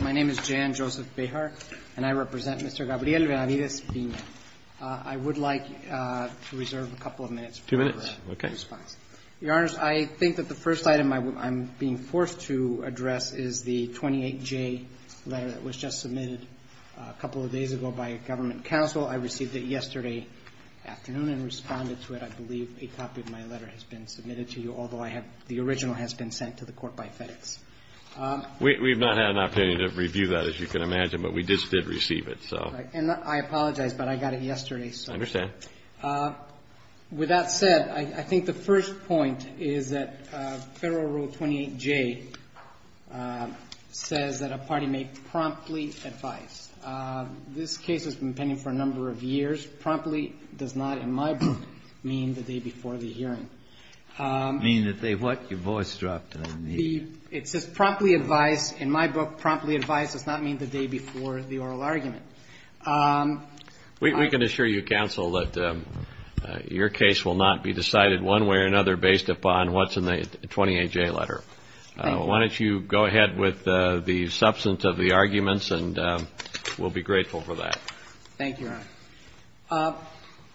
My name is Jan Joseph Behar, and I represent Mr. Gabriel Benavides-Pina. I would like to reserve a couple of minutes for your response. Mr. Earnest, I think that the first item I'm being forced to address is the 28J letter that was just submitted a couple of days ago by a government counsel. I received it yesterday afternoon and responded to it. I believe a copy of my letter has been submitted to you, although I have the original has been sent to the Court by FedEx. We've not had an opportunity to review that, as you can imagine, but we just did receive it. And I apologize, but I got it yesterday, so. I understand. With that said, I think the first point is that Federal Rule 28J says that a party may promptly advise. This case has been pending for a number of years. Promptly does not, in my book, mean the day before the hearing. Mean that they what? Your voice dropped. It says promptly advise. In my book, promptly advise does not mean the day before the oral argument. We can assure you, counsel, that your case will not be decided one way or another based upon what's in the 28J letter. Thank you. Why don't you go ahead with the substance of the arguments, and we'll be grateful for that. Thank you, Your Honor.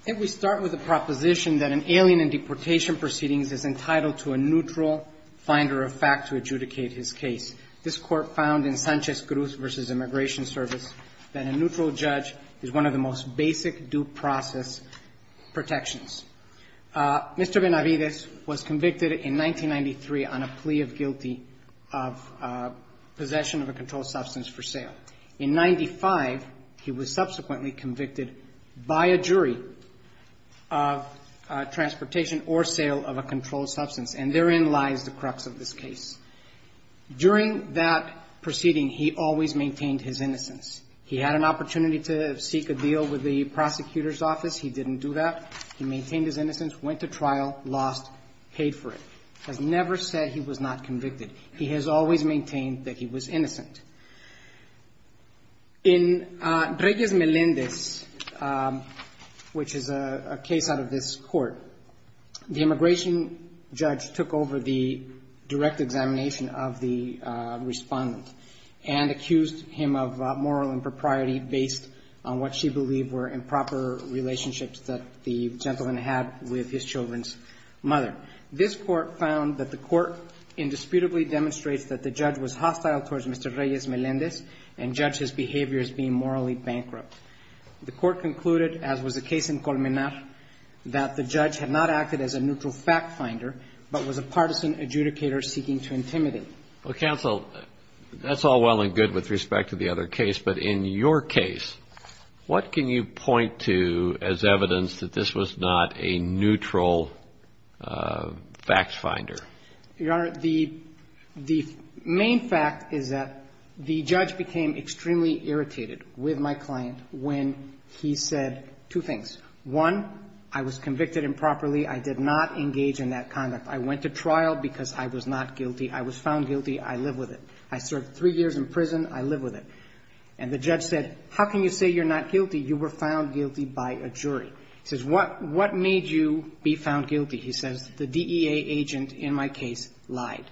I think we start with the proposition that an alien in deportation proceedings is entitled to a neutral finder of fact to adjudicate his case. This Court found in Sanchez Cruz v. Immigration Service that a neutral judge is one of the most basic due process protections. Mr. Benavides was convicted in 1993 on a plea of guilty of possession of a controlled substance for sale. In 1995, he was subsequently convicted by a jury of transportation or sale of a controlled substance. And therein lies the crux of this case. During that proceeding, he always maintained his innocence. He had an opportunity to seek a deal with the prosecutor's office. He didn't do that. He maintained his innocence, went to trial, lost, paid for it. Has never said he was not convicted. He has always maintained that he was innocent. In Reyes-Melendez, which is a case out of this Court, the immigration judge took over the direct examination of the respondent and accused him of moral impropriety based on what she believed were improper relationships that the gentleman had with his children's mother. This Court found that the Court indisputably demonstrates that the judge was hostile towards Mr. Reyes-Melendez and judged his behavior as being morally bankrupt. The Court concluded, as was the case in Colmenar, that the judge had not acted as a neutral fact finder, but was a partisan adjudicator seeking to intimidate. Well, counsel, that's all well and good with respect to the other case. But in your case, what can you point to as evidence that this was not a neutral facts finder? Your Honor, the main fact is that the judge became extremely irritated with my client when he said two things. One, I was convicted improperly. I did not engage in that conduct. I went to trial because I was not guilty. I was found guilty. I live with it. I served three years in prison. I live with it. And the judge said, how can you say you're not guilty? You were found guilty by a jury. He says, what made you be found guilty? He says, the DEA agent in my case lied.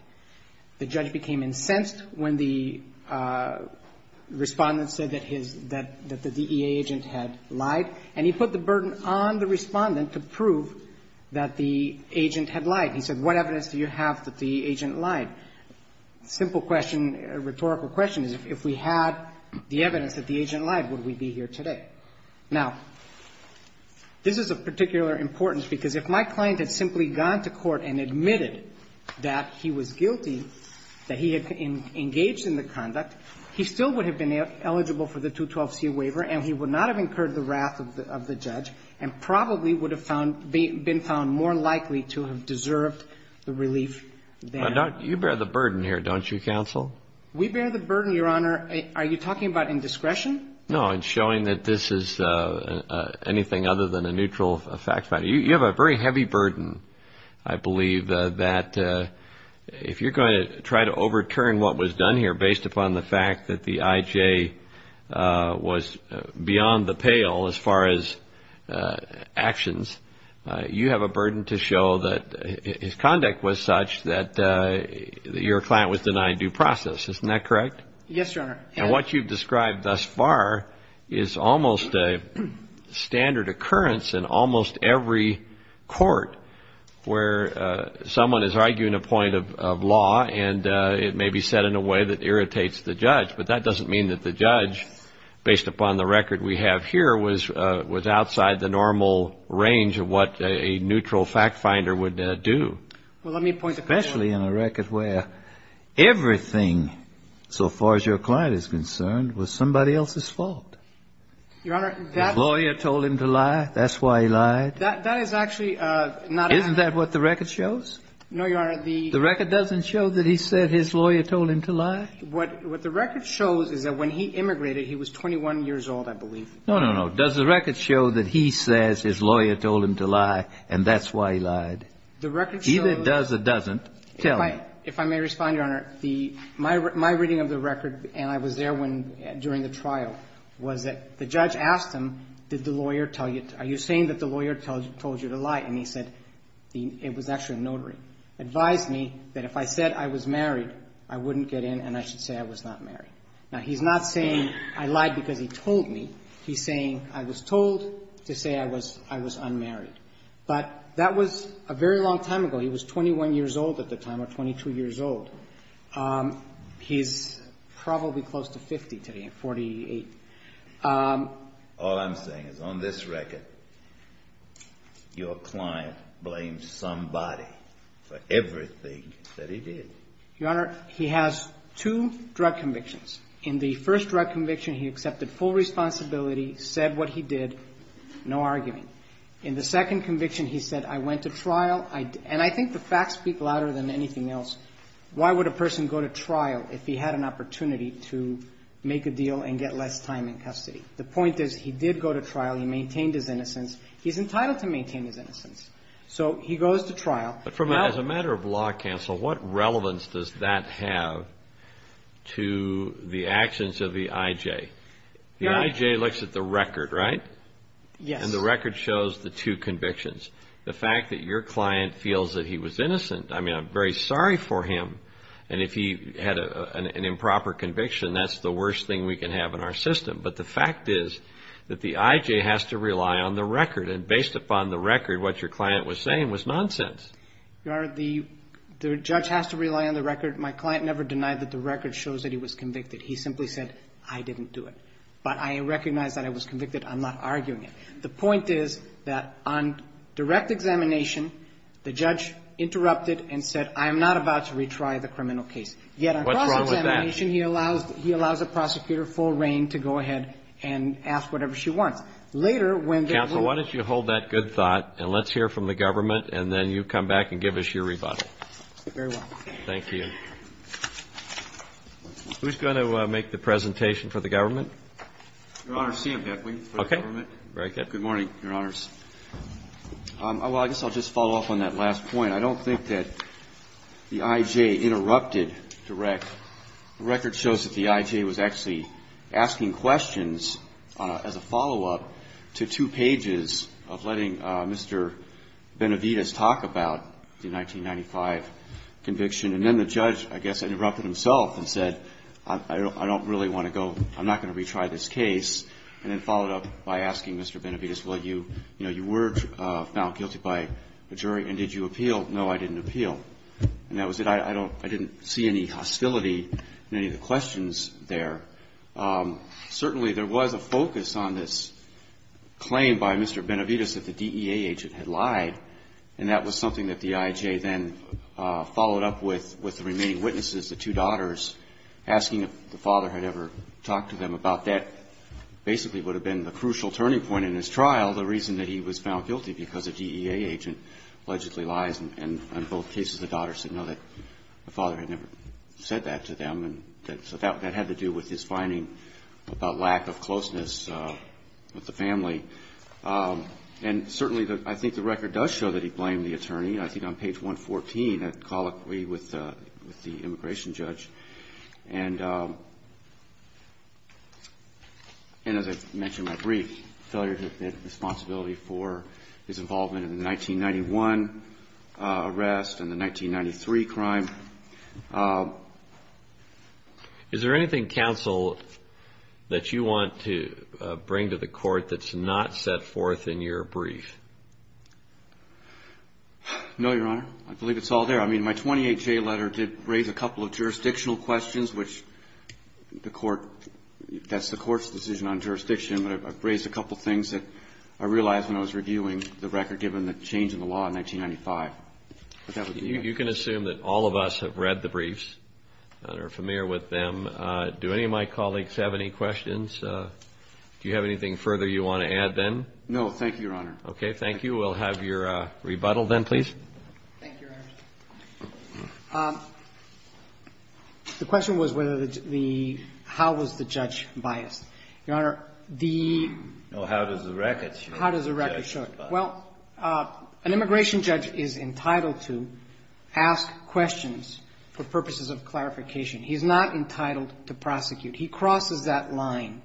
The judge became incensed when the Respondent said that the DEA agent had lied. And he put the burden on the Respondent to prove that the agent had lied. He said, what evidence do you have that the agent lied? Simple question, rhetorical question is, if we had the evidence that the agent lied, would we be here today? Now, this is of particular importance because if my client had simply gone to court and admitted that he was guilty, that he had engaged in the conduct, he still would have been eligible for the 212c waiver, and he would not have incurred the wrath of the judge and probably would have found been found more likely to have deserved the relief. You bear the burden here, don't you, Counsel? We bear the burden, Your Honor. Are you talking about indiscretion? No, I'm showing that this is anything other than a neutral fact finder. You have a very heavy burden, I believe, that if you're going to try to overturn what was done here based upon the fact that the IJ was beyond the pale, as far as actions, you have a burden to show that his conduct was such that your client was denied due process. Isn't that correct? Yes, Your Honor. And what you've described thus far is almost a standard occurrence in almost every court where someone is arguing a point of law, and it may be said in a way that irritates the judge, but that doesn't mean that the judge, based upon the record we have here, was outside the normal range of what a neutral fact finder would do. Especially in a record where everything, so far as your client is concerned, was somebody else's fault. Your Honor, that's — His lawyer told him to lie. That's why he lied. That is actually not a — Isn't that what the record shows? No, Your Honor, the — The record doesn't show that he said his lawyer told him to lie? What the record shows is that when he immigrated, he was 21 years old, I believe. No, no, no. Does the record show that he says his lawyer told him to lie, and that's why he lied? The record shows — Either it does or it doesn't. Tell me. If I may respond, Your Honor, my reading of the record, and I was there during the trial, was that the judge asked him, did the lawyer tell you — are you saying that the lawyer told you to lie? And he said it was actually a notary. Advised me that if I said I was married, I wouldn't get in and I should say I was not married. Now, he's not saying I lied because he told me. He's saying I was told to say I was unmarried. But that was a very long time ago. He was 21 years old at the time, or 22 years old. He's probably close to 50 today, 48. All I'm saying is on this record, your client blamed somebody for everything that he did. Your Honor, he has two drug convictions. In the first drug conviction, he accepted full responsibility, said what he did, no arguing. In the second conviction, he said, I went to trial. And I think the facts speak louder than anything else. Why would a person go to trial if he had an opportunity to make a deal and get less time in custody? The point is he did go to trial. He maintained his innocence. He's entitled to maintain his innocence. So he goes to trial. But as a matter of law counsel, what relevance does that have to the actions of the I.J.? The I.J. looks at the record, right? Yes. And the record shows the two convictions. The fact that your client feels that he was innocent. I mean, I'm very sorry for him. And if he had an improper conviction, that's the worst thing we can have in our system. But the fact is that the I.J. has to rely on the record. And based upon the record, what your client was saying was nonsense. Your Honor, the judge has to rely on the record. My client never denied that the record shows that he was convicted. He simply said, I didn't do it. But I recognize that I was convicted. I'm not arguing it. The point is that on direct examination, the judge interrupted and said, I am not about to retry the criminal case. Yet on cross-examination, he allows a prosecutor full reign to go ahead and ask whatever she wants. Later, when the rule was made. Counsel, why don't you hold that good thought, and let's hear from the government, and then you come back and give us your rebuttal. Very well. Thank you. Who's going to make the presentation for the government? Your Honor, CMS. Okay. Very good. Good morning, Your Honors. Well, I guess I'll just follow up on that last point. I don't think that the I.J. interrupted direct. The record shows that the I.J. was actually asking questions as a follow-up to two pages of letting Mr. Benavides talk about the 1995 conviction. And then the judge, I guess, interrupted himself and said, I don't really want to I'm not going to retry this case. And then followed up by asking Mr. Benavides, well, you were found guilty by a jury, and did you appeal? No, I didn't appeal. And that was it. I didn't see any hostility in any of the questions there. Certainly, there was a focus on this claim by Mr. Benavides that the DEA agent had lied, and that was something that the I.J. then followed up with the remaining witnesses, the two daughters, asking if the father had ever talked to them about that basically would have been the crucial turning point in his trial, the reason that he was found guilty, because a DEA agent allegedly lies. And in both cases, the daughter said no, that the father had never said that to them. And so that had to do with his finding about lack of closeness with the family. And certainly, I think the record does show that he blamed the attorney. I think on page 114, I call it with the immigration judge. And as I mentioned in my brief, failure to admit responsibility for his involvement in the 1991 arrest and the 1993 crime. Is there anything, counsel, that you want to bring to the court that's not set forth in your brief? No, Your Honor. I believe it's all there. I mean, my 28-J letter did raise a couple of jurisdictional questions, which the court that's the court's decision on jurisdiction, but I've raised a couple of things that I realized when I was reviewing the record given the change in the law in 1995. You can assume that all of us have read the briefs and are familiar with them. Do any of my colleagues have any questions? Do you have anything further you want to add then? No, thank you, Your Honor. Okay, thank you. We'll have your rebuttal then, please. Thank you, Your Honor. The question was whether the – how was the judge biased. Your Honor, the – Well, how does the record show it? How does the record show it? Well, an immigration judge is entitled to ask questions for purposes of clarification. He's not entitled to prosecute. He crosses that line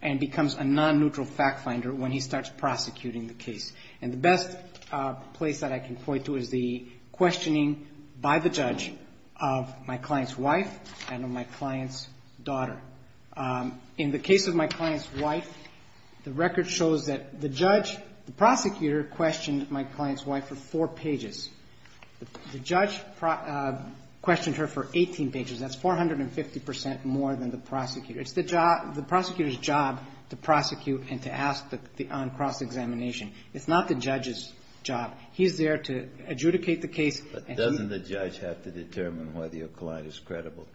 and becomes a non-neutral fact finder when he starts prosecuting the case. And the best place that I can point to is the questioning by the judge of my client's wife and of my client's daughter. In the case of my client's wife, the record shows that the judge, the prosecutor questioned my client's wife for four pages. The judge questioned her for 18 pages. That's 450 percent more than the prosecutor. It's the prosecutor's job to prosecute and to ask on cross-examination. It's not the judge's job. He's there to adjudicate the case. But doesn't the judge have to determine whether your client is credible?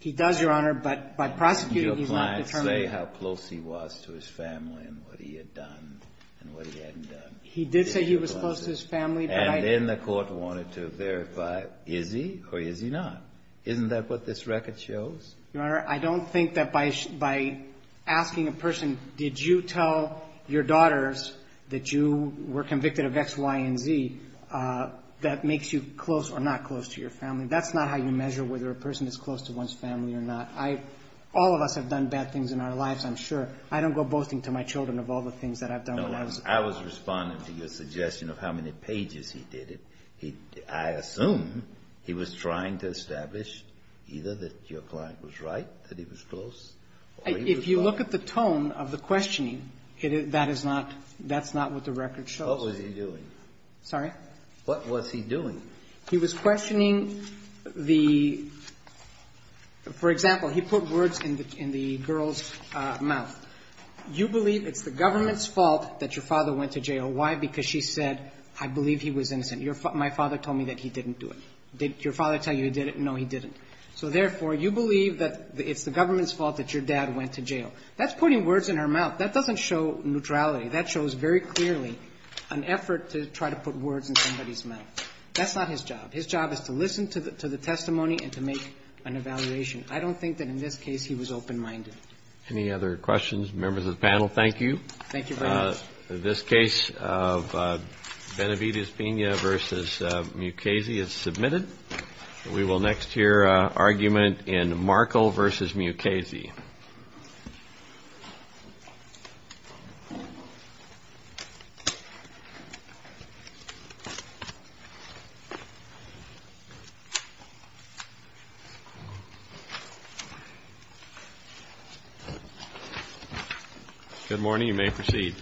He does, Your Honor. But by prosecuting, he's not determined. Did your client say how close he was to his family and what he had done and what he hadn't done? He did say he was close to his family. And then the court wanted to verify, is he or is he not? Isn't that what this record shows? Your Honor, I don't think that by asking a person, did you tell your daughters that you were convicted of X, Y, and Z, that makes you close or not close to your family. That's not how you measure whether a person is close to one's family or not. I – all of us have done bad things in our lives, I'm sure. I don't go boasting to my children of all the things that I've done when I was a child. No. I was responding to your suggestion of how many pages he did it. He – I assume he was trying to establish either that your client was right, that he was close, or he was not. If you look at the tone of the questioning, it is – that is not – that's not what the record shows. What was he doing? Sorry? What was he doing? He was questioning the – for example, he put words in the girl's mouth. You believe it's the government's fault that your father went to jail. Why? Because she said, I believe he was innocent. My father told me that he didn't do it. Did your father tell you he did it? No, he didn't. So therefore, you believe that it's the government's fault that your dad went to jail. That's putting words in her mouth. That doesn't show neutrality. That shows very clearly an effort to try to put words in somebody's mouth. That's not his job. His job is to listen to the testimony and to make an evaluation. I don't think that in this case he was open-minded. Any other questions, members of the panel? Thank you. Thank you very much. This case of Benevides-Pena v. Mukasey is submitted. We will next hear argument in Markle v. Mukasey. Thank you. Good morning. You may proceed.